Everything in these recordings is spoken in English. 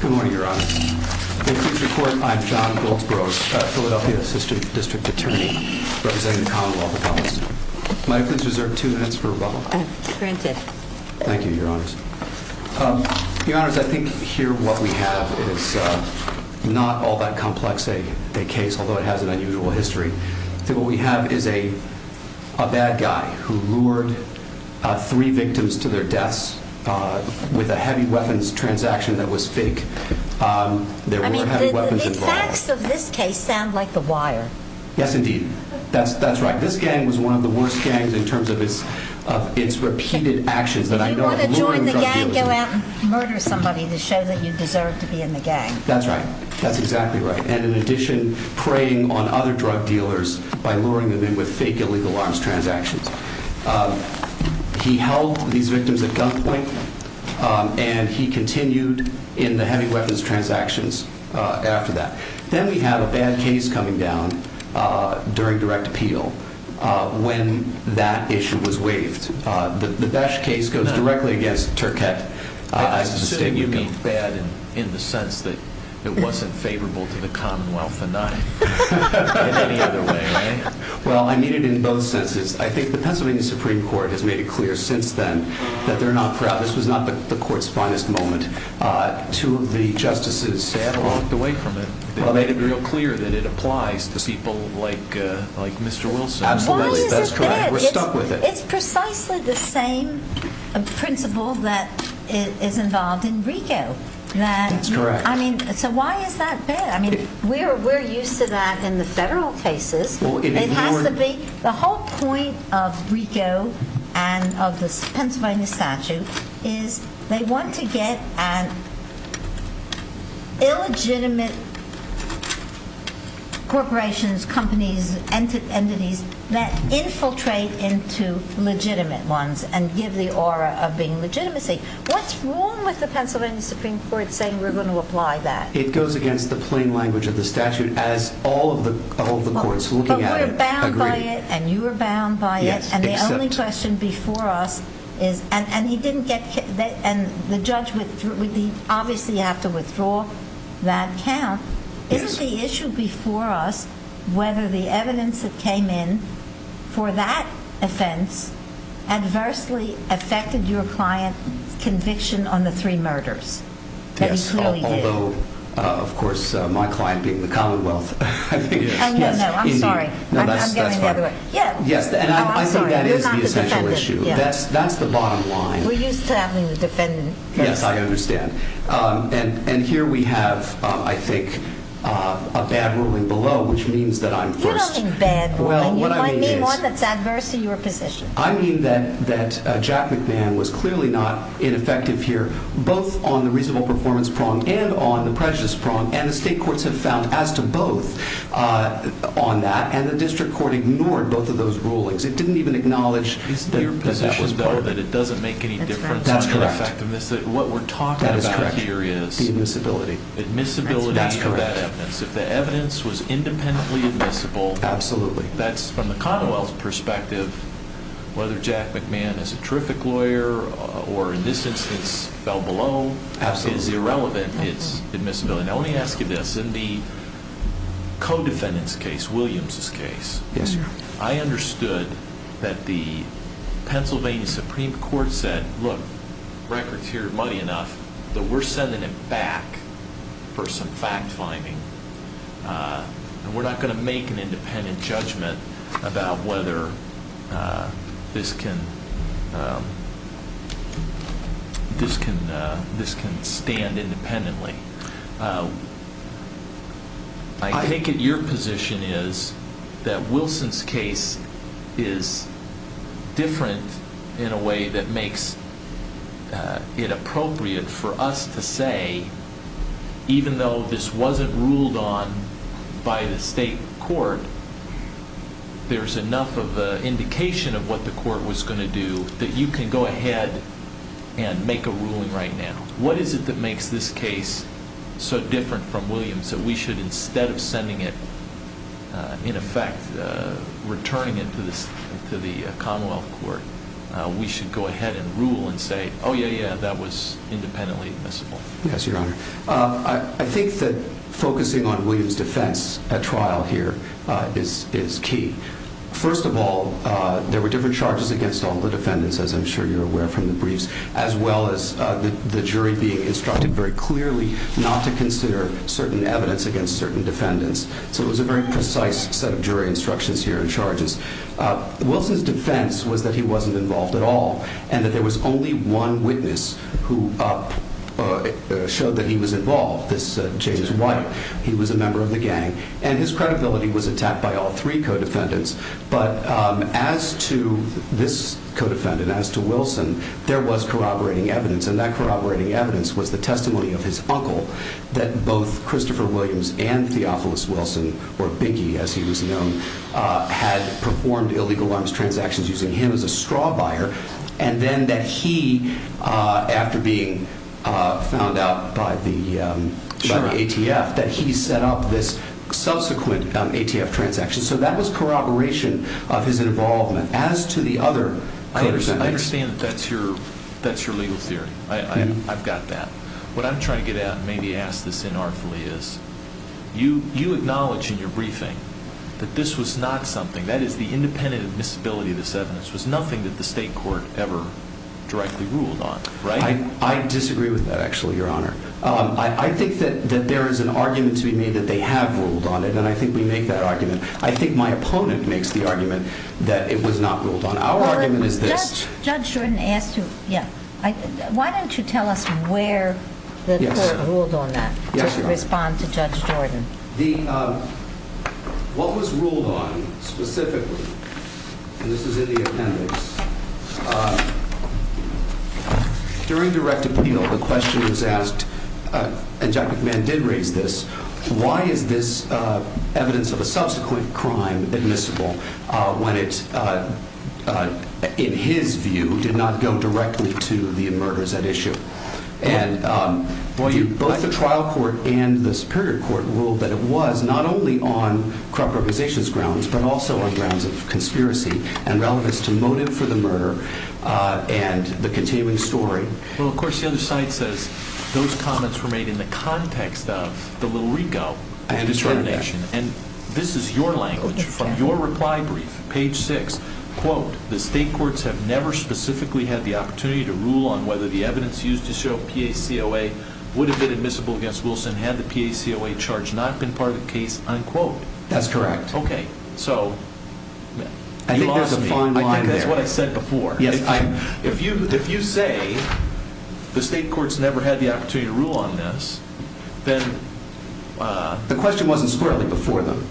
Good morning, Your Honor. In future court, I'm John Goldsbrough, a Philadelphia Assistant District Attorney representing the Commonwealth of Columbus. May I please reserve two minutes for rebuttal? Granted. Thank you, Your Honors. Your Honors, I think here what we have is not all that complex a case, although it has an unusual history. What we have is a bad guy who lured three victims to their deaths with a heavy weapons transaction that was fake. There were heavy weapons involved. I mean, the facts of this case sound like the repeated actions that I know of. You want to join the gang and go out and murder somebody to show that you deserve to be in the gang. That's right. That's exactly right. And in addition, preying on other drug dealers by luring them in with fake illegal arms transactions. He held these victims at gunpoint and he continued in the heavy weapons transactions after that. Then we have a bad case coming down during direct appeal when that issue was waived. The Basch case goes directly against Turkett. You mean bad in the sense that it wasn't favorable to the Commonwealth or not? In any other way, right? Well, I mean it in both senses. I think the Pennsylvania Supreme Court has made it clear since then that they're not proud. This was not the court's finest moment. Two of the justices sat and looked away from it. They made it real clear that it applies to people like Mr. Wilson. Absolutely. That's correct. We're stuck with it. It's precisely the same principle that is involved in RICO. That's correct. I mean, so why is that bad? I mean, we're used to that in the federal cases. It has to be. The whole point of RICO and of the Pennsylvania statute is they want to get an illegitimate corporation, corporations, companies, entities that infiltrate into legitimate ones and give the aura of being legitimacy. What's wrong with the Pennsylvania Supreme Court saying we're going to apply that? It goes against the plain language of the statute as all of the courts looking at it agree. But we're bound by it and you are bound by it and the only question before us is and the judge would obviously have to withdraw that count. Isn't the issue before us whether the evidence that came in for that offense adversely affected your client's conviction on the three murders? Yes, although of course my client being the commonwealth. I'm sorry. I'm getting the other way. Yes, and I think that is the essential issue. That's the bottom line. We're used to having the defendant first. Yes, I understand. And here we have, I think, a bad ruling below which means that I'm first. You don't think bad ruling. You might mean one that's adverse to your position. I mean that Jack McMahon was clearly not ineffective here both on the reasonable performance prong and on the prejudice prong and the state courts have found as to both on that. And the district court ignored both of those rulings. It didn't even acknowledge that it doesn't make any difference. That's correct. What we're talking about here is the admissibility. Admissibility of that evidence. If the evidence was independently admissible, absolutely. That's from the commonwealth's perspective whether Jack McMahon is a terrific lawyer or in this instance fell below is irrelevant. It's admissibility. Now let me ask you this. In the co-defendant's case, Williams' case, I understood that the Pennsylvania Supreme Court said, look, record's here muddy enough that we're sending it back for some fact finding. We're not going to make an independent judgment about whether this can stand independently. I think that your position is that Wilson's case is different in a way that makes it appropriate for us to say even though this wasn't ruled on by the state court, there's enough of an indication of what the court was going to do that you can go ahead and make a ruling right now. What is it that makes this case so different from Williams that we should instead of sending it in effect, returning it to the commonwealth court, we should go ahead and rule and say, oh yeah, yeah, that was independently admissible? Yes, your honor. I think that focusing on Williams' defense at trial here is key. First of all, there were different charges against all the defendants, as I'm sure you're aware from the briefs, as well as the jury being instructed very clearly not to consider certain evidence against certain defendants. So it was a very precise set of jury instructions here in charges. Wilson's defense was that he wasn't involved at all and that there was only one witness who showed that he was involved. This James White, he was a member of the gang and his credibility was attacked by all three co-defendants. But as to this co-defendant, as to Wilson, there was corroborating evidence and that corroborating evidence was the testimony of his uncle that both Christopher Williams and Theophilus Wilson, or Biggie as he was known, had performed illegal arms transactions using him as a straw buyer. And then that he, after being found out by the ATF, that he set up this subsequent ATF transaction. So that was corroboration of his involvement. As to the other co-defendants... I understand that that's your legal theory. I've got that. What I'm trying to get at, maybe ask this inartfully, is you acknowledge in your briefing that this was not something, that is the independent admissibility of this evidence, was nothing that the state court ever directly ruled on, right? I disagree with that actually, Your Honor. I think that there is an argument. I think my opponent makes the argument that it was not ruled on. Our argument is this... Judge Jordan asked to... Yeah. Why don't you tell us where the court ruled on that, to respond to Judge Jordan? What was ruled on specifically, and this is in the appendix, during direct appeal, the question was asked, and Judge McMahon did raise this, why is this evidence of a subsequent crime admissible when it, in his view, did not go directly to the murders at issue? And both the trial court and the superior court ruled that it was not only on corrupt organization's grounds, but also on grounds of conspiracy and relevance to motive for the murder and the continuing story. Well, of course, the other side says those comments were made in the context of the Little Rico determination, and this is your language. From your reply brief, page six, quote, the state courts have never specifically had the opportunity to rule on whether the evidence used to show PACOA would have been admissible against Wilson had the PACOA charge not been part of the case, unquote. That's correct. Okay, so... I think there's a fine line there. That's what I said before. If you say the state courts never had the opportunity to rule on this, then... The question wasn't squarely before them,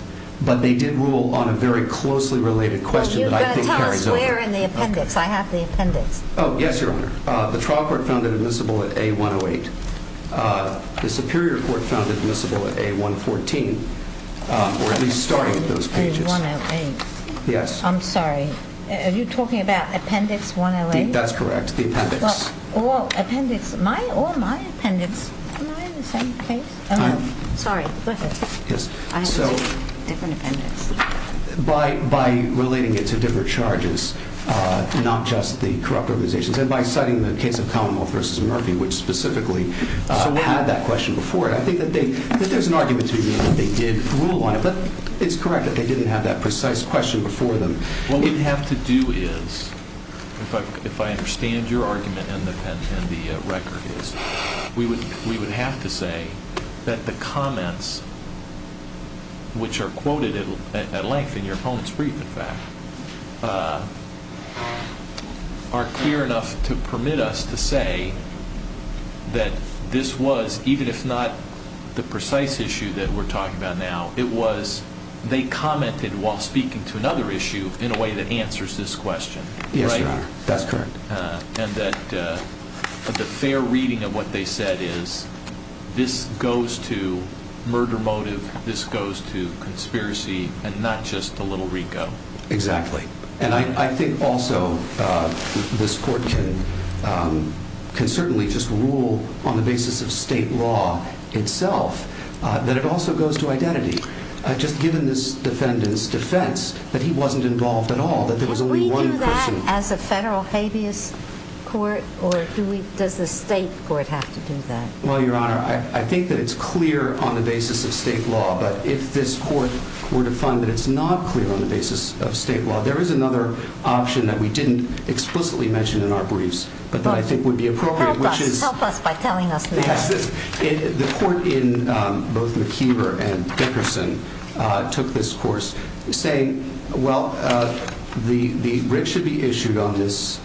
but they did rule on a very closely related question that I think carries over. Well, you've got to tell us where in the appendix. I have the appendix. Oh, yes, Your Honor. The trial court found it admissible at A108. The superior court found it admissible at A114, or at least starting with those pages. A108. Yes. I'm sorry. Are you the appendix? Or my appendix. Am I in the same case? Sorry, go ahead. Yes. I have two different appendix. By relating it to different charges, not just the corrupt organizations, and by citing the case of Commonwealth v. Murphy, which specifically had that question before it, I think that there's an argument to be made that they did rule on it, but it's correct that they did. I understand your argument and the record is. We would have to say that the comments, which are quoted at length in your opponent's brief, in fact, are clear enough to permit us to say that this was, even if not the precise issue that we're talking about now, it was they commented while speaking to another issue in a way that answers this question. Yes, you are. That's correct. And that the fair reading of what they said is this goes to murder motive, this goes to conspiracy, and not just the little Rico. Exactly. And I think also this court can certainly just rule on the basis of state law itself that it also goes to identity. Just given this defendant's defense that he wasn't involved at all, that there was only one person as a federal habeas court, or do we, does the state court have to do that? Well, your honor, I think that it's clear on the basis of state law, but if this court were to find that it's not clear on the basis of state law, there is another option that we didn't explicitly mentioned in our briefs, but that I think would be appropriate, which is Yes, the court in both McKeever and Dickerson took this course saying, well, the bridge should be issued on this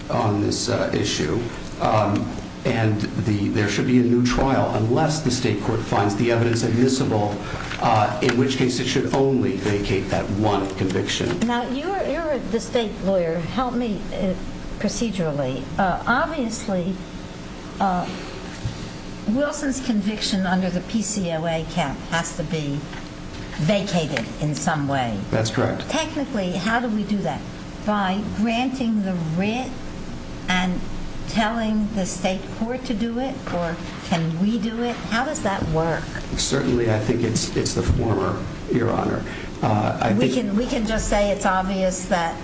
issue, and there should be a new trial unless the state court finds the evidence admissible, in which case it should only vacate that one conviction. Now, you're the state lawyer, help me procedurally. Obviously, Wilson's conviction under the PCOA cap has to be vacated in some way. That's correct. Technically, how do we do that? By granting the writ and telling the state court to do it, or can we do it? How does that work? Certainly, I think it's the former, your honor. We can just say it's obvious that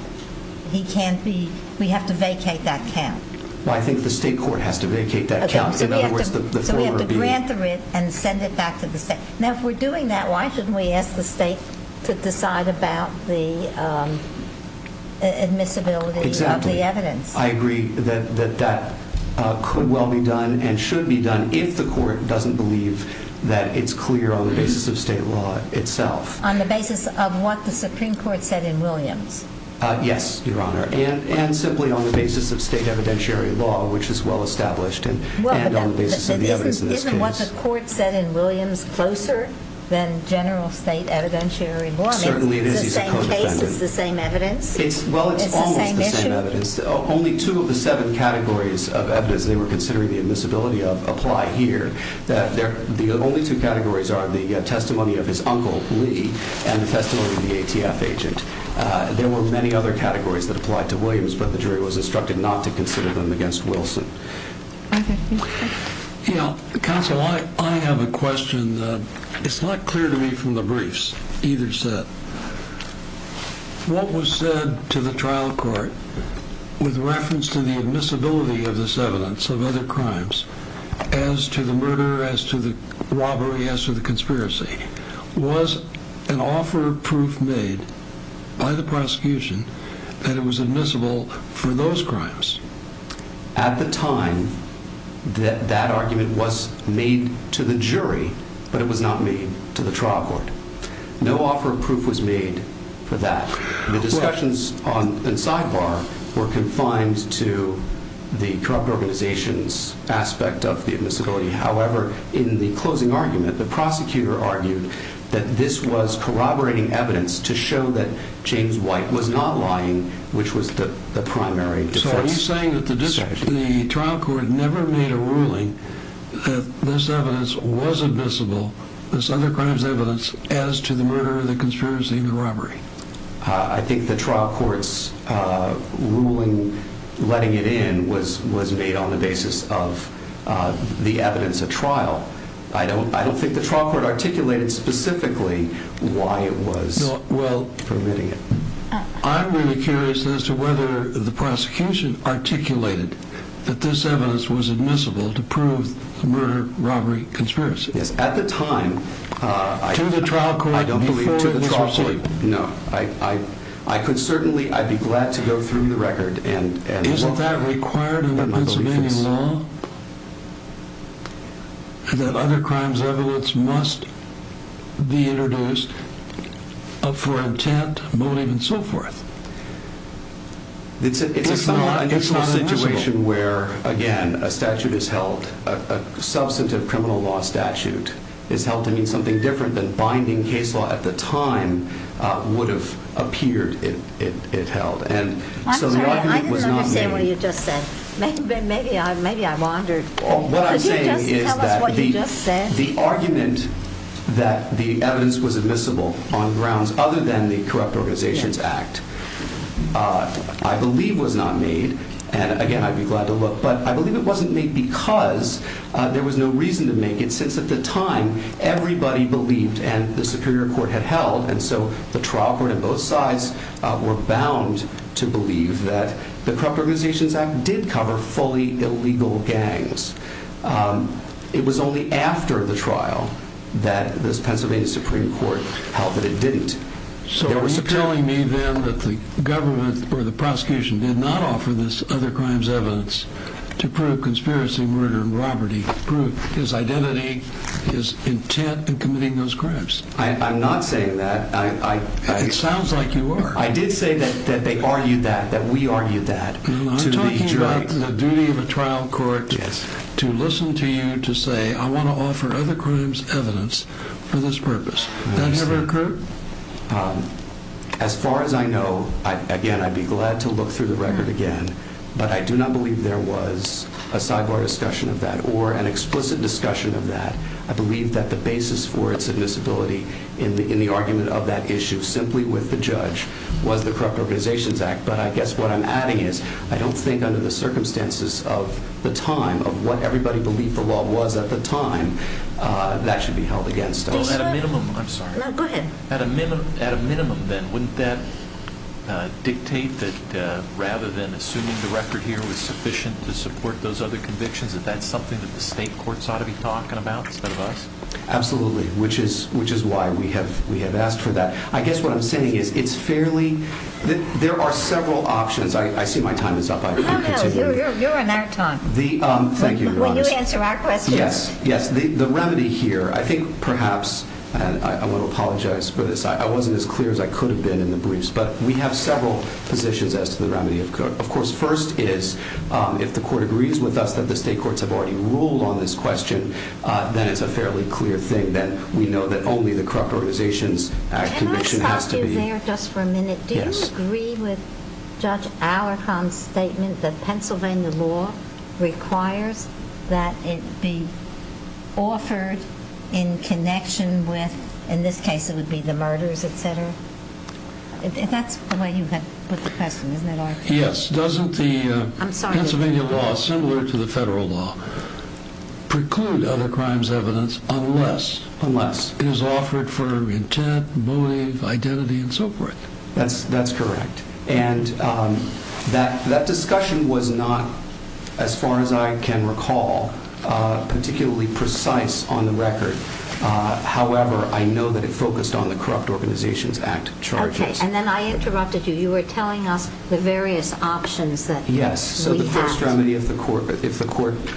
he can't be, we have to vacate that count. Well, I think the state court has to vacate that count. Okay, so we have to grant the writ and send it back to the state. Now, if we're doing that, why shouldn't we ask the state to decide about the admissibility of the evidence? Exactly, I agree that that could well be done and should be done if the court doesn't believe that it's clear on the basis of state law itself. On the basis of what the Supreme Court said in Williams? Yes, your honor, and simply on the basis of state evidentiary law, which is well established and on the basis of the evidence in this case. Isn't what the court said in Williams closer than general state evidentiary law? Certainly, it is. It's the same case, it's the evidence. Well, it's almost the same evidence. Only two of the seven categories of evidence they were considering the admissibility of apply here. The only two categories are the testimony of his uncle, Lee, and the testimony of the ATF agent. There were many other categories that applied to Williams, but the jury was instructed not to consider them against Wilson. Yeah, counsel, I have a question. It's not clear to me from the briefs, either set. What was said to the trial court with reference to the admissibility of this evidence of other crimes, as to the murder, as to the robbery, as to the conspiracy, was an offer of proof made by the prosecution that it was admissible for those crimes? At the time that that argument was made to the jury, but it was not made to the trial court. No offer of proof was made for that. The discussions on the sidebar were confined to the corrupt organizations aspect of the admissibility. However, in the closing argument, the prosecutor argued that this was corroborating evidence to show that James White was not lying, which was the primary defense. So are you saying that the trial court never made a ruling that this evidence was admissible, this other crimes evidence, as to the murder, the conspiracy, and the robbery? I think the trial court's ruling letting it in was made on the basis of the evidence at trial. I don't think the trial court articulated specifically why it was permitting it. I'm really curious as to whether the prosecution articulated that this evidence was admissible to prove the murder, robbery, conspiracy. Yes, at the time, I don't believe to the trial court. No, I could certainly, I'd be glad to go through the record. And isn't that required in the Pennsylvania law? That other crimes evidence must be introduced for intent, motive, and so forth. It's a situation where, again, a statute is held, a substantive criminal law statute is held to mean something different than binding case law at the time would have appeared it held. And so the argument was not made. Maybe I wandered. The argument that the evidence was admissible on grounds other than the Corrupt Organizations Act, I believe was not made. And again, I'd be glad to look, but I believe it wasn't made because there was no reason to make it since at the time, everybody believed and the superior court had did cover fully illegal gangs. It was only after the trial that this Pennsylvania Supreme Court held that it didn't. So you're telling me then that the government or the prosecution did not offer this other crimes evidence to prove conspiracy murder and robbery, prove his identity, his intent in committing those crimes. I'm not saying that. It sounds like you are. I did say that they argued that, that we argued that. I'm talking about the duty of a trial court to listen to you to say, I want to offer other crimes evidence for this purpose. That never occurred? As far as I know, again, I'd be glad to look through the record again, but I do not believe there was a sidebar discussion of that or an explicit discussion of that. I believe that the basis for its admissibility in the argument of that issue simply with the Organizations Act. But I guess what I'm adding is I don't think under the circumstances of the time of what everybody believed the law was at the time, that should be held against us. Well, at a minimum, I'm sorry. No, go ahead. At a minimum then, wouldn't that dictate that rather than assuming the record here was sufficient to support those other convictions, that that's something that the state courts ought to be talking about instead of us? Absolutely. Which is why we have asked for that. I guess what I'm saying is it's fairly... There are several options. I see my time is up. I can continue. No, no. You're on our time. Thank you, Your Honor. Will you answer our questions? Yes. Yes. The remedy here, I think perhaps, I want to apologize for this. I wasn't as clear as I could have been in the briefs, but we have several positions as to the remedy. Of course, first is if the court agrees with us that the state courts have already ruled on this question, then it's a fairly clear thing that we know that only the Corrupt Organizations Act conviction has to be... Can I stop you there just for a minute? Yes. Do you agree with Judge Alarcon's statement that Pennsylvania law requires that it be offered in connection with, in this case, it would be the murders, et cetera? That's the way you put the question, isn't it, Art? Yes. Doesn't the Pennsylvania law, similar to the federal law, preclude other crimes evidence unless it is offered for intent, motive, identity, and so forth? That's correct. That discussion was not, as far as I can recall, particularly precise on the record. However, I know that it focused on the Corrupt Organizations Act charges. Okay. Then I interrupted you. You were telling us the various options that we have. The first remedy, if the court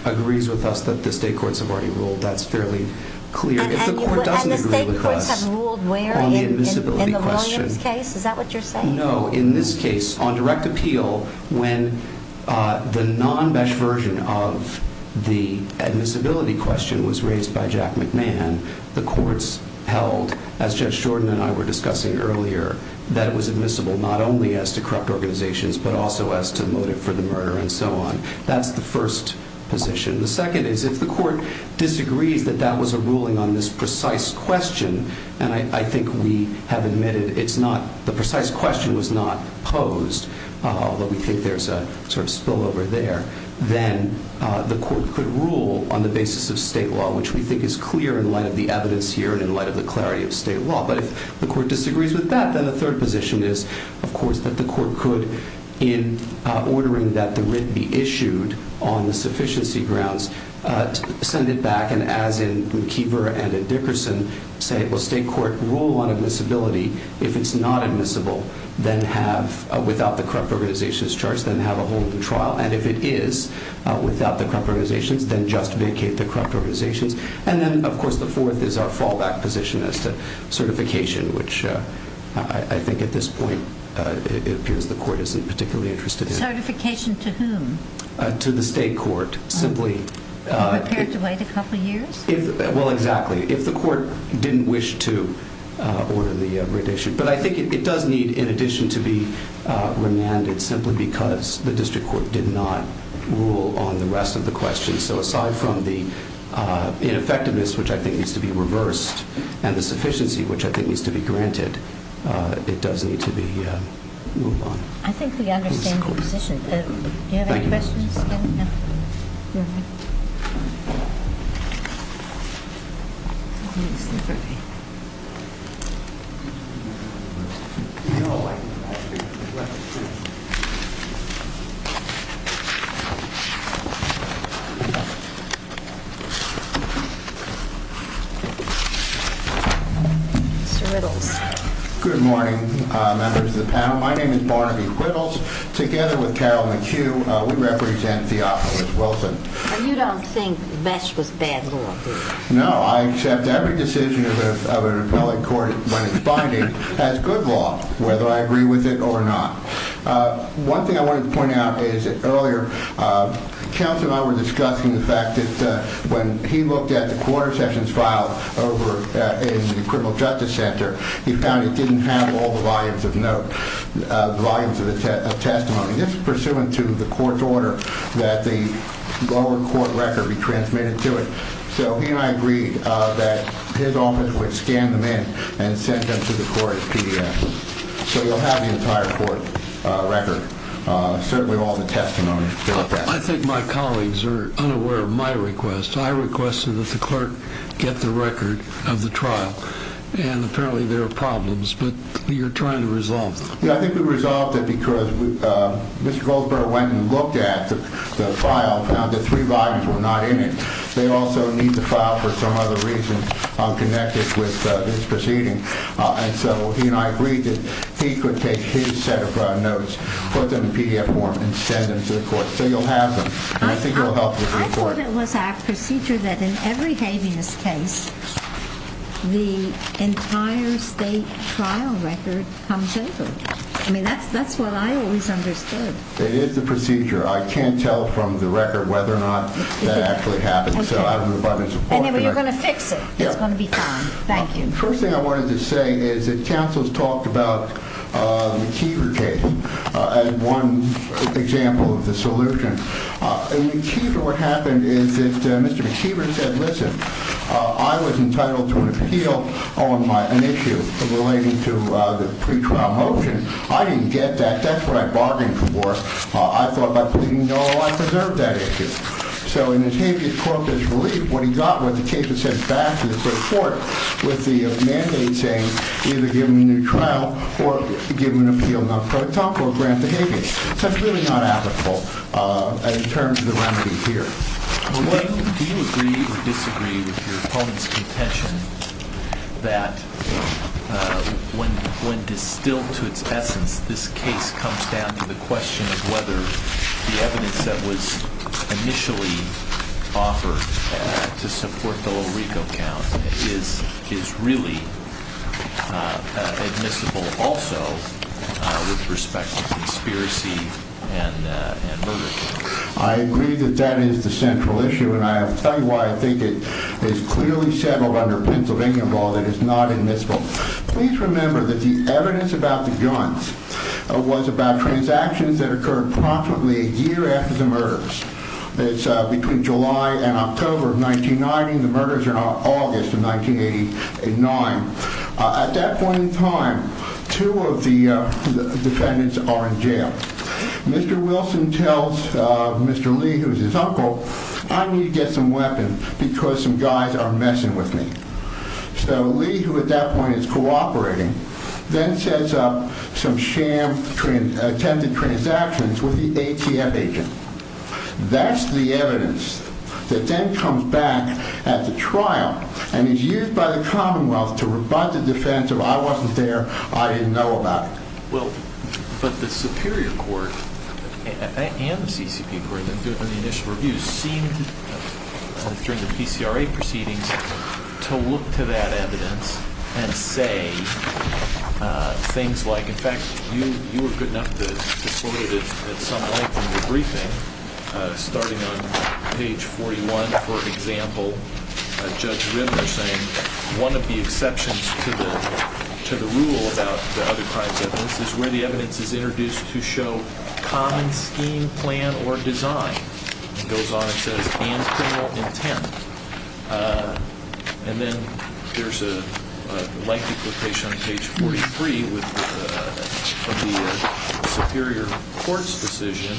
agrees with us that the state courts have already ruled, that's fairly clear. If the court doesn't agree with us- The state courts have ruled where in the Williams case? Is that what you're saying? No. In this case, on direct appeal, when the non-BESH version of the admissibility question was raised by Jack McMahon, the courts held, as Judge Shorten and I were discussing earlier, that it was admissible not only as to corrupt organizations, but also as to the murder and so on. That's the first position. The second is if the court disagrees that that was a ruling on this precise question, and I think we have admitted the precise question was not posed, although we think there's a spillover there, then the court could rule on the basis of state law, which we think is clear in light of the evidence here and in light of the clarity of state law. But if the court disagrees with that, then the third position is, of course, the court could, in ordering that the writ be issued on the sufficiency grounds, send it back, and as in McKeever and Dickerson, say, well, state court, rule on admissibility. If it's not admissible, then without the corrupt organization's charge, then have a hold of the trial. And if it is without the corrupt organization's, then just vacate the corrupt organization's. And then, of course, the fourth is our fallback position as to certification, which I think at this point appears the court isn't particularly interested in. Certification to whom? To the state court, simply. Are you prepared to wait a couple years? Well, exactly. If the court didn't wish to order the writ issued. But I think it does need, in addition, to be remanded simply because the district court did not rule on the rest of the questions. So aside from the ineffectiveness, which I think needs to be reversed, and the sufficiency, which I think needs to be granted, it does need to be moved on. I think we understand the position. Do you have any questions? Good morning, members of the panel. My name is Barnaby Quibbles. Together with Carol McHugh, we represent Theophilus Wilson. And you don't think Besh was bad law? No, I accept every decision of an appellate court when it's binding as good law, whether I agree with it or not. One thing I wanted to point out is that earlier, counsel and I were discussing the fact that when he looked at the quarter he found it didn't have all the volumes of testimony. This is pursuant to the court's order that the lower court record be transmitted to it. So he and I agreed that his office would scan them in and send them to the court as PDFs. So you'll have the entire court record, certainly all the testimony. I think my colleagues are unaware of my request. I requested that the and apparently there are problems, but you're trying to resolve them. Yeah, I think we resolved it because Mr. Goldsboro went and looked at the file, found that three volumes were not in it. They also need the file for some other reason connected with this proceeding. And so he and I agreed that he could take his set of notes, put them in PDF form and send them to the court. So you'll have them. And I think it will help the court. I thought it was a procedure that in every entire state trial record comes over. I mean, that's, that's what I always understood. It is the procedure. I can't tell from the record whether or not that actually happened. And then we're going to fix it. It's going to be fine. Thank you. First thing I wanted to say is that counsel's talked about the McKeever case as one example of the solution. And the key to what happened is that Mr. McKeever said, listen, I was entitled to an appeal on my, an issue relating to the pre-trial motion. I didn't get that. That's what I bargained for. I thought by pleading no, I preserved that issue. So in his habeas corpus relief, what he got with the case, it sends back to the court with the mandate saying, either give him a new trial or give him an appeal non-credit top or grant the habeas. So it's really not applicable in terms of the remedy here. Do you agree or disagree with your opponent's contention that when, when distilled to its essence, this case comes down to the question of whether the evidence that was initially offered to support the low RICO count is, is really admissible also with respect to conspiracy and murder? I agree that that is the central issue and I'll tell you why I think it is clearly settled under Pennsylvania law that is not admissible. Please remember that the evidence about the guns was about transactions that occurred promptly a year after the murders. That's between July and October of 1990. The murders are not August of 1989. At that point two of the defendants are in jail. Mr. Wilson tells Mr. Lee, who's his uncle, I need to get some weapons because some guys are messing with me. So Lee, who at that point is cooperating, then sets up some sham, attempted transactions with the ATM agent. That's the evidence that then comes back at the trial and is used by the Commonwealth to I didn't know about it. Well, but the Superior Court and the CCP Court, that did the initial review, seemed during the PCRA proceedings to look to that evidence and say things like, in fact, you, you were good enough to sort it at some point in the briefing, starting on page 41, for example, Judge Rinder saying one of the exceptions to the rule about the other crimes evidence is where the evidence is introduced to show common scheme, plan, or design. It goes on and says and criminal intent. And then there's a light duplication on page 43 with the Superior Court's decision,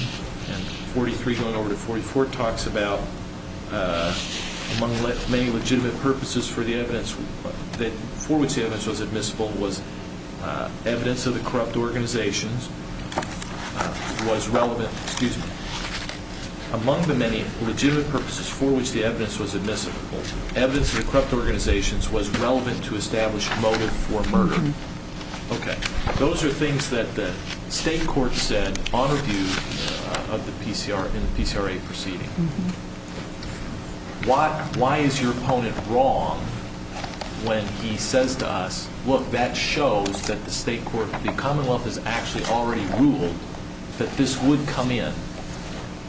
and 43 going over to 44, talks about among many legitimate purposes for the evidence that for which the evidence was admissible was evidence of the corrupt organizations was relevant. Excuse me. Among the many legitimate purposes for which the evidence was admissible, evidence of the corrupt organizations was relevant to establish motive for murder. Okay. Those are things that the state court said on review of the PCRA proceeding. Why is your opponent wrong when he says to us, look, that shows that the state court, the Commonwealth has actually already ruled that this would come in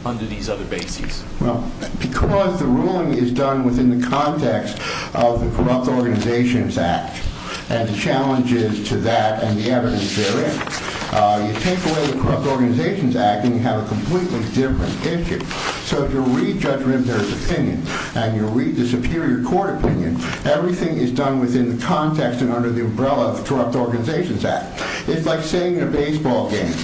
under these other bases? Well, because the ruling is done within the context of the Corrupt Organizations Act and the challenges to that and the evidence therein. You take away the Corrupt Organizations Act and you have a completely different issue. So if you read Judge Rinder's opinion and you read the Superior Court opinion, everything is done within the context and under the umbrella of the Corrupt Organizations Act. It's like saying in a baseball game,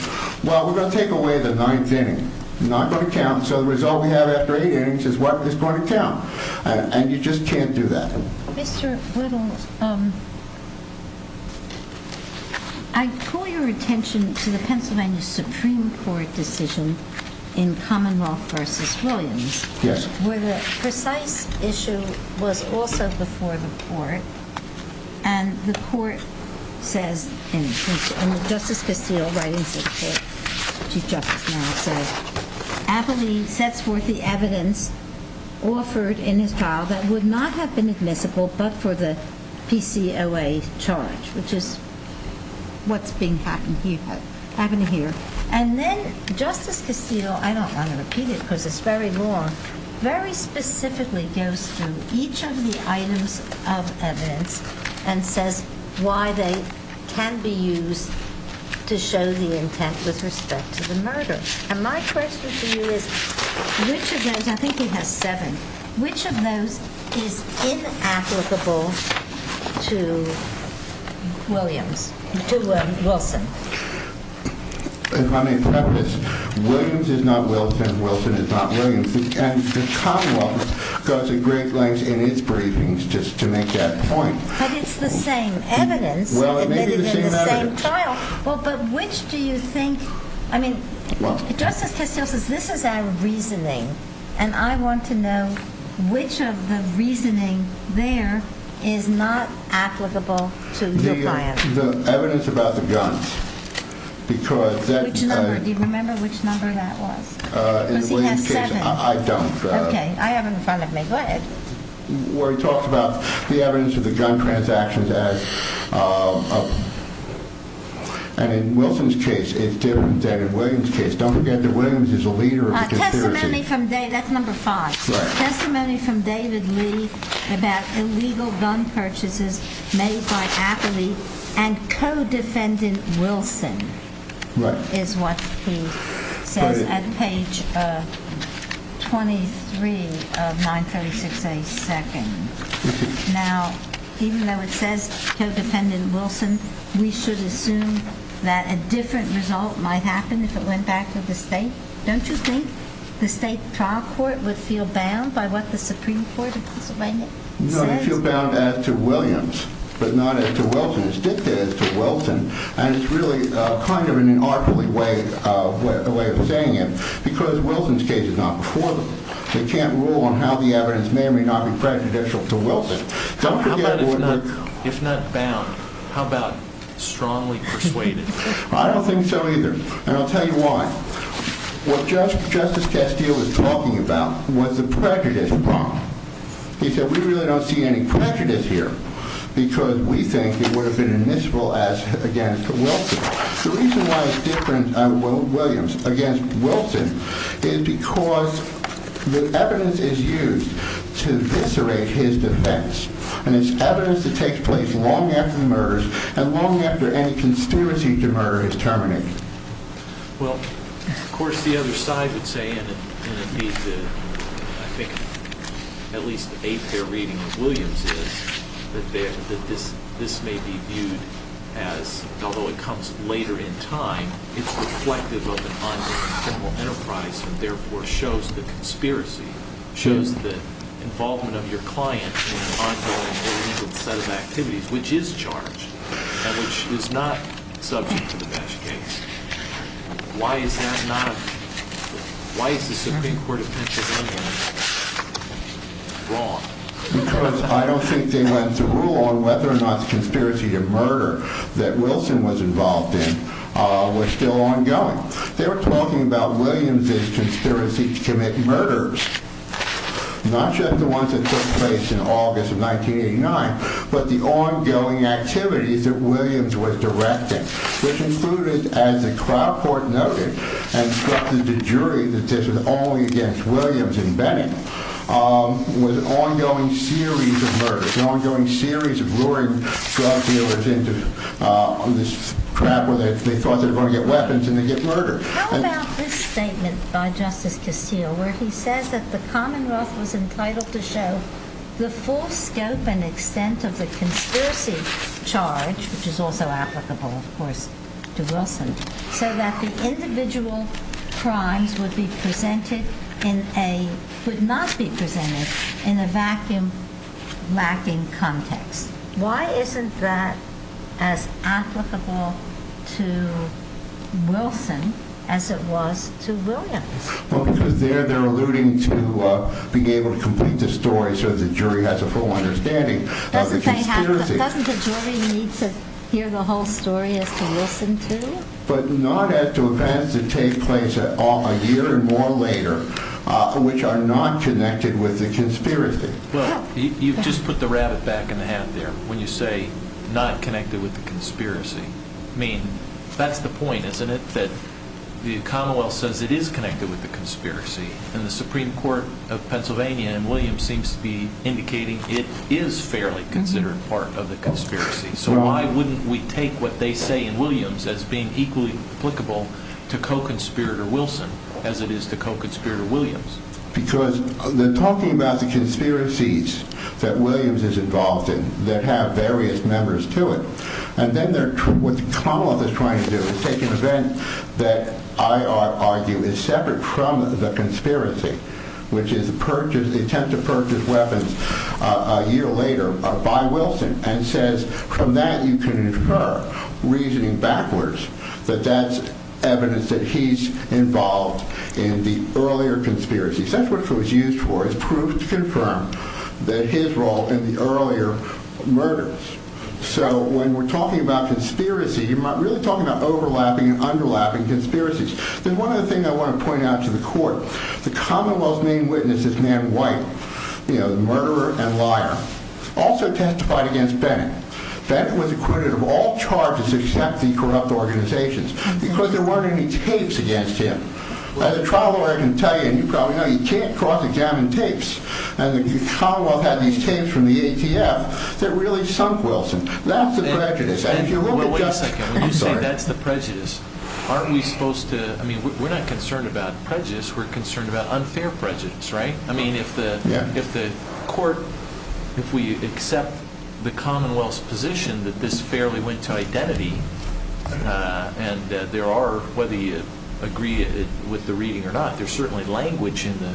well, we're going to take away the ninth inning. Not going to count. So the result we have after eight innings is what is going to count. And you just can't do that. Mr. Whittle, I call your attention to the Pennsylvania Supreme Court decision in Commonwealth v. Williams. Yes. Where the precise issue was also before the court and the court says in Justice Castillo's writings that Chief Justice Madoff said, Abilene sets forth the evidence offered in his trial that would not have been admissible but for the PCOA charge, which is what's happening here. And then Justice Castillo, I don't want to repeat it because it's very long, very specifically goes through each of the items of evidence and says why they can be used to show the intent with respect to the murder. And my question to you is, which of those, I think he has seven, which of those is inapplicable to Williams, to Wilson? If I may preface, Williams is not Wilson, Wilson is not Williams. And the Commonwealth goes a great length in its briefings just to make that point. But it's the same evidence. Well, it may be the same evidence. Well, but which do you think, I mean, Justice Castillo says this is our reasoning and I want to know which of the reasoning there is not applicable to the client? The evidence about the guns, because that... Which number, do you remember which number that was? In the Williams case, I don't. Okay, I have it in front of me, go ahead. Where he talks about the evidence of the gun transactions as, and in Wilson's case, it's different than in Williams case. Don't forget that Williams is a leader of the conspiracy. That's number five, testimony from David Lee about illegal gun purchases made by Appley and co-defendant Wilson is what he says at page 23 of 936A, second. Now, even though it says co-defendant Wilson, we should assume that a different result might happen if it went back to the state. Don't you think the state trial court would feel bound by what the Supreme Court of Pennsylvania says? No, they feel bound as to Williams, but not as to Wilson. It's dictated to Wilson and it's really kind of in an artfully way of saying it because Wilson's case is not before them. They can't rule on how the evidence may or may not be prejudicial to Wilson. Don't forget... If not bound, how about strongly persuaded? I don't think so either and I'll tell you why. What Justice Castillo was talking about was the prejudice prompt. He said, we really don't see any prejudice here because we think it would have been admissible as against Wilson. The reason why it's different on Williams against Wilson is because the evidence is used to eviscerate his defense and it's evidence that takes place long after the murders and long after any conspiracy to murder is terminated. Well, of course, the other side would say, and I think at least a fair reading of Williams is that this may be viewed as, although it comes later in time, it's reflective of an ongoing criminal enterprise and therefore shows the conspiracy, shows the involvement of your client in an ongoing illegal set of activities, which is charged and which is not subject to the best case. Why is that not? Why is the Supreme Court of Pennsylvania wrong? Because I don't think they went to rule on whether or not the conspiracy to murder that Wilson was involved in, uh, was still ongoing. They were talking about Williams' conspiracy to commit murders, not just the ones that took place in August of 1989, but the ongoing activities that Williams was directing, which included, as the crowd court noted and instructed the jury that this was only against Williams and Bennett, was an ongoing series of murders, an ongoing series of luring drug dealers into this crap where they thought they were going to get weapons and they get murdered. How about this statement by Justice Castillo, where he says that the commonwealth was entitled to show the full scope and extent of the conspiracy charge, which is also applicable, of course, to Wilson, so that the individual crimes would be presented in a, would not be presented in a vacuum lacking context. Why isn't that as applicable to Wilson as it was to Williams? Well, because there they're alluding to, uh, being able to complete the story so the jury has a full understanding of the conspiracy. Doesn't the jury need to hear the whole story as to Wilson too? But not as to events that take place a year or more later, which are not connected with the conspiracy. Well, you've just put the rabbit back in the hat there when you say not connected with the conspiracy. I mean, that's the point, isn't it? The commonwealth says it is connected with the conspiracy and the Supreme Court of Pennsylvania and Williams seems to be indicating it is fairly considered part of the conspiracy. So why wouldn't we take what they say in Williams as being equally applicable to co-conspirator Wilson as it is to co-conspirator Williams? Because they're talking about the conspiracies that Williams is involved in that have various members to it. And then they're, what the commonwealth is trying to do is take an event that I argue is separate from the conspiracy, which is the purchase, the attempt to purchase weapons a year later by Wilson and says from that you can infer reasoning backwards that that's evidence that he's involved in the earlier conspiracy. So that's what it was used for is proof to confirm that his role in the earlier murders. So when we're talking about conspiracy, you're really talking about overlapping and underlapping conspiracies. Then one of the things I want to point out to the court, the commonwealth's main witnesses, man white, you know, the murderer and liar also testified against Bennett. Bennett was acquitted of all charges except the corrupt organizations because there weren't any tapes against him. As a trial lawyer, I can tell you, and you probably know, he can't cross examine tapes and the commonwealth had these tapes from the ATF that really sunk Wilson. That's the prejudice. And if you look at that, that's the prejudice. Aren't we supposed to, I mean, we're not concerned about prejudice. We're concerned about unfair prejudice, right? I mean, if the, if the court, if we accept the commonwealth's position that this fairly went to identity and there are, whether you agree with the reading or not, there's certainly language in the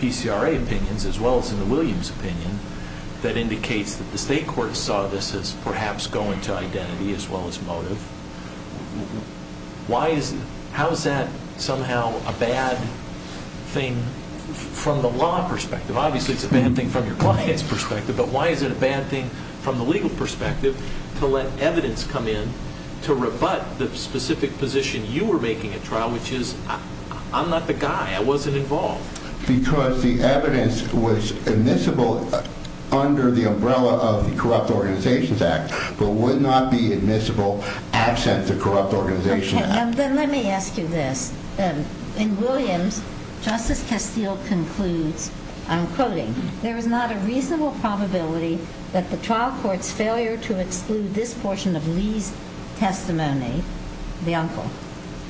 PCRA opinions as well as in the Williams opinion that indicates that the state court saw this as perhaps going to identity as well as motive. Why is, how is that somehow a bad thing from the law perspective? Obviously it's a bad thing from your client's perspective, but why is it a bad thing from the legal perspective to let evidence come in to rebut the specific position you were making at trial, which is I'm not the guy, I wasn't involved. Because the evidence was admissible under the umbrella of the Corrupt Organizations Act, but would not be admissible absent the Corrupt Organizations Act. Okay, then let me ask you this. In Williams, Justice Castile concludes, I'm quoting, there is not a reasonable probability that the trial court's failure to exclude this portion of Lee's testimony, the uncle,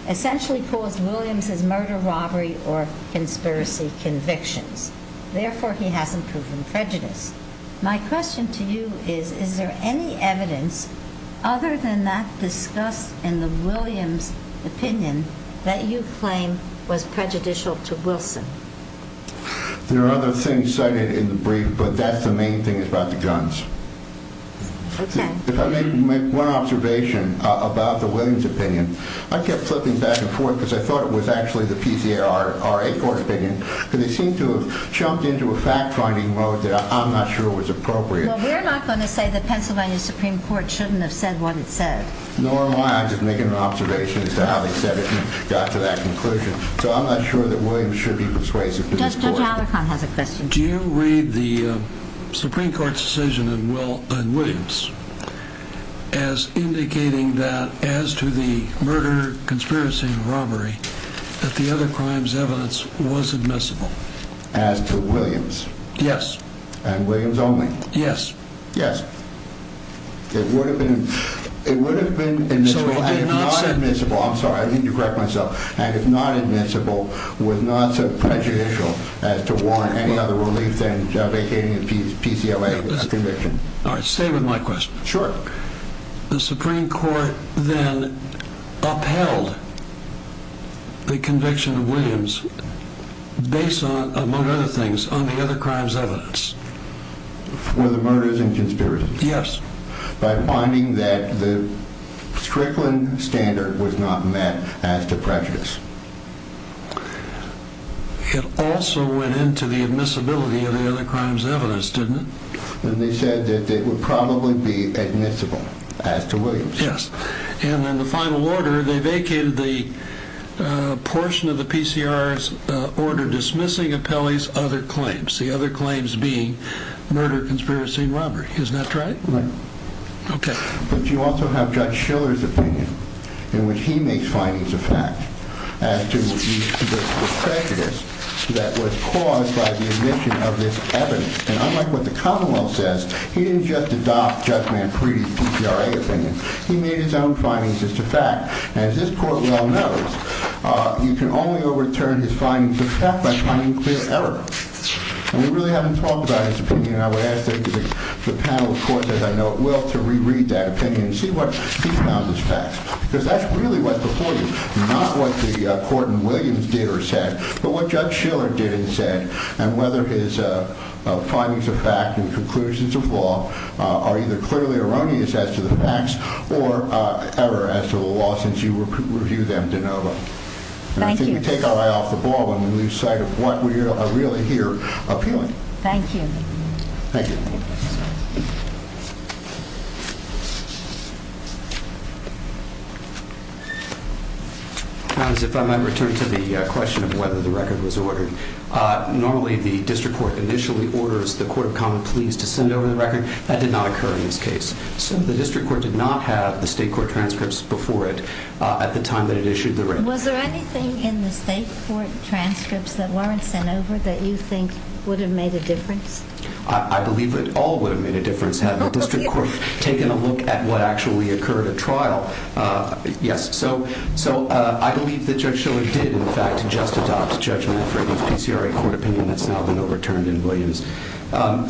essentially caused Williams' murder, robbery, or conspiracy convictions. Therefore, he hasn't proven prejudice. My question to you is, is there any evidence other than that discussed in the Williams opinion that you claim was prejudicial to Wilson? There are other things cited in the brief, but that's the main thing is about the guns. If I may make one observation about the Williams opinion, I kept flipping back and forth because I thought it was actually the PCARA court opinion, because they seem to have jumped into a fact finding mode that I'm not sure was appropriate. Well, we're not going to say the Pennsylvania Supreme Court shouldn't have said what it said. Nor am I, I'm just making an observation as to got to that conclusion. So I'm not sure that Williams should be persuasive. Do you read the Supreme Court's decision in Williams as indicating that as to the murder, conspiracy, and robbery, that the other crimes evidence was admissible? As to Williams? Yes. And Williams only? Yes. Yes. It would have been, it would have been not admissible. I'm sorry, I need to correct myself. And if not admissible, was not so prejudicial as to warrant any other relief than vacating the PCLA conviction. All right. Stay with my question. Sure. The Supreme Court then upheld the conviction of Williams based on, among other things, on the other crimes evidence. For the murders and conspiracies? Yes. By finding that the Strickland standard was not met as to prejudice. It also went into the admissibility of the other crimes evidence, didn't it? And they said that it would probably be admissible as to Williams. Yes. And then the final order, they vacated the portion of the PCR's order dismissing Apelli's other claims. The other claims being murder, conspiracy, and robbery. Isn't that right? Right. Okay. But you also have Judge Schiller's opinion in which he makes findings of fact as to the prejudice that was caused by the admission of this evidence. And unlike what the Commonwealth says, he didn't just adopt Judge Manfredi's PCLA opinion. He made his own findings as to fact. As this court well knows, you can only overturn his findings of fact by finding clear error. And we really haven't talked about his opinion. I would ask the panel, of course, as I know it will, to reread that opinion and see what he found as facts. Because that's really what's before you, not what the court in Williams did or said, but what Judge Schiller did and said, and whether his findings of fact and conclusions of law are either clearly erroneous as to the facts or error as to the law since you review them de novo. Thank you. We take our eye off the ball when we lose sight of what we are really here appealing. Thank you. Thank you. If I might return to the question of whether the record was ordered, normally the district court initially orders the court of common pleas to send over the record. That did not occur in this case. So the district court did not have the state court transcripts before it at the time that it issued the record. Was there anything in the state court transcripts that weren't sent over that you think would have made a difference? I believe it all would have made a difference had the district court taken a look at what actually occurred at trial. Yes. So I believe that Judge Schiller did, in fact, just adopt Judge Manfredi's PCLA court opinion that's now been overturned in Williams. Are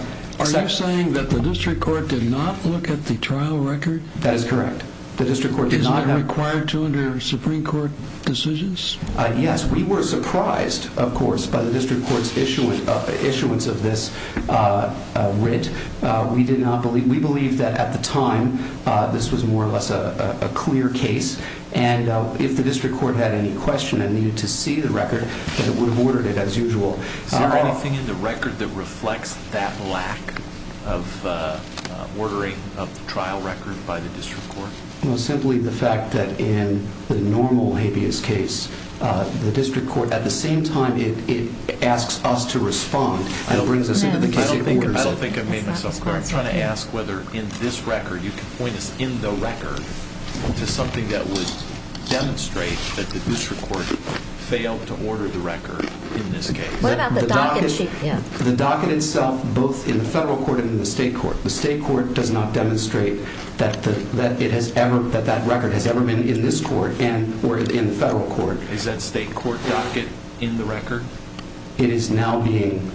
you saying that the district court did not look at the trial record? That is correct. The district court did not have... Is it required to under your Supreme Court decisions? Yes. We were surprised, of course, by the district court's issuance of this writ. We believe that at the time, this was more or less a clear case. And if the district court had any question and needed to see the record, that it would have ordered it as usual. Is there anything in the record that reflects that lack of ordering of the trial record by the district court? Well, simply the fact that in the normal habeas case, the district court, at the same time, it asks us to respond. And it brings us into the case it orders it. I don't think I made myself clear. I'm trying to ask whether in this record, you can point us in the record to something that would demonstrate that the district court failed to order the record in this case. What about the docket? The docket itself, both in the federal court and in the state court. The state court does not demonstrate that that record has ever been in this court and or in the federal court. Is that state court docket in the record? It is now being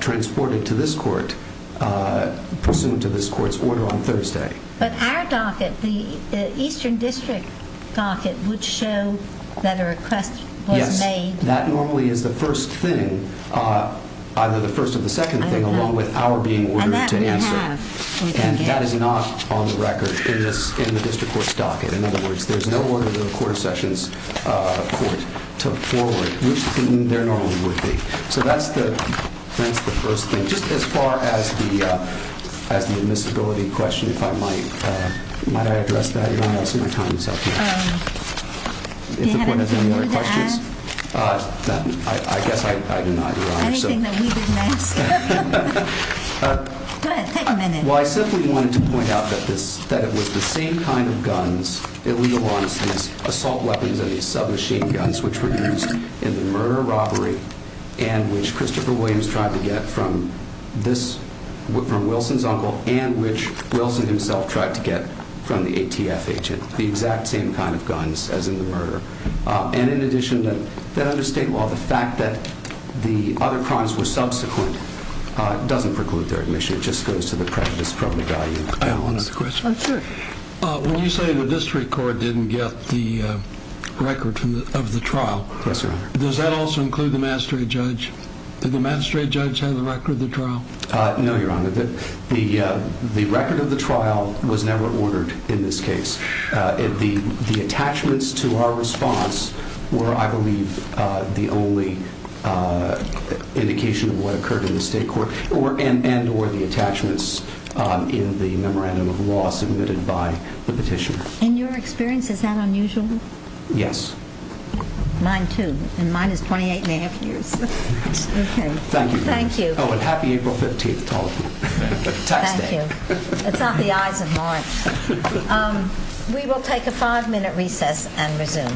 transported to this court, pursuant to this court's order on Thursday. But our docket, the Eastern District docket, would show that a request was made. That normally is the first thing, either the first or the second thing, along with our being ordered to answer. And that is not on the record in the district court's docket. In other words, there's no order that a court of sections court took forward, which there normally would be. So that's the first thing. Just as far as the admissibility question, if I might, might I address that? You're not asking my time, so I can't. Do you have anything more to ask? Uh, I guess I do not, Your Honor. Anything that we didn't ask? Go ahead, take a minute. Well, I simply wanted to point out that this, that it was the same kind of guns, illegal arms, assault weapons, and these submachine guns, which were used in the murder robbery, and which Christopher Williams tried to get from this, from Wilson's uncle, and which Wilson himself tried to get from the ATF agent. The exact same kind of guns as in the murder. And in addition, that under state law, the fact that the other crimes were subsequent, doesn't preclude their admission. It just goes to the practice from the value. I have one other question. When you say the district court didn't get the record of the trial, does that also include the magistrate judge? Did the magistrate judge have the record of the trial? No, Your Honor. The record of the trial was never ordered in this case. The attachments to our response were, I believe, the only indication of what occurred in the state court, and or the attachments in the memorandum of law submitted by the petitioner. In your experience, is that unusual? Yes. Mine too. And mine is 28 and a half years. Thank you. Thank you. Oh, and happy April 15th, Toledo. Tax day. It's off the eyes of mine. We will take a five minute recess and resume.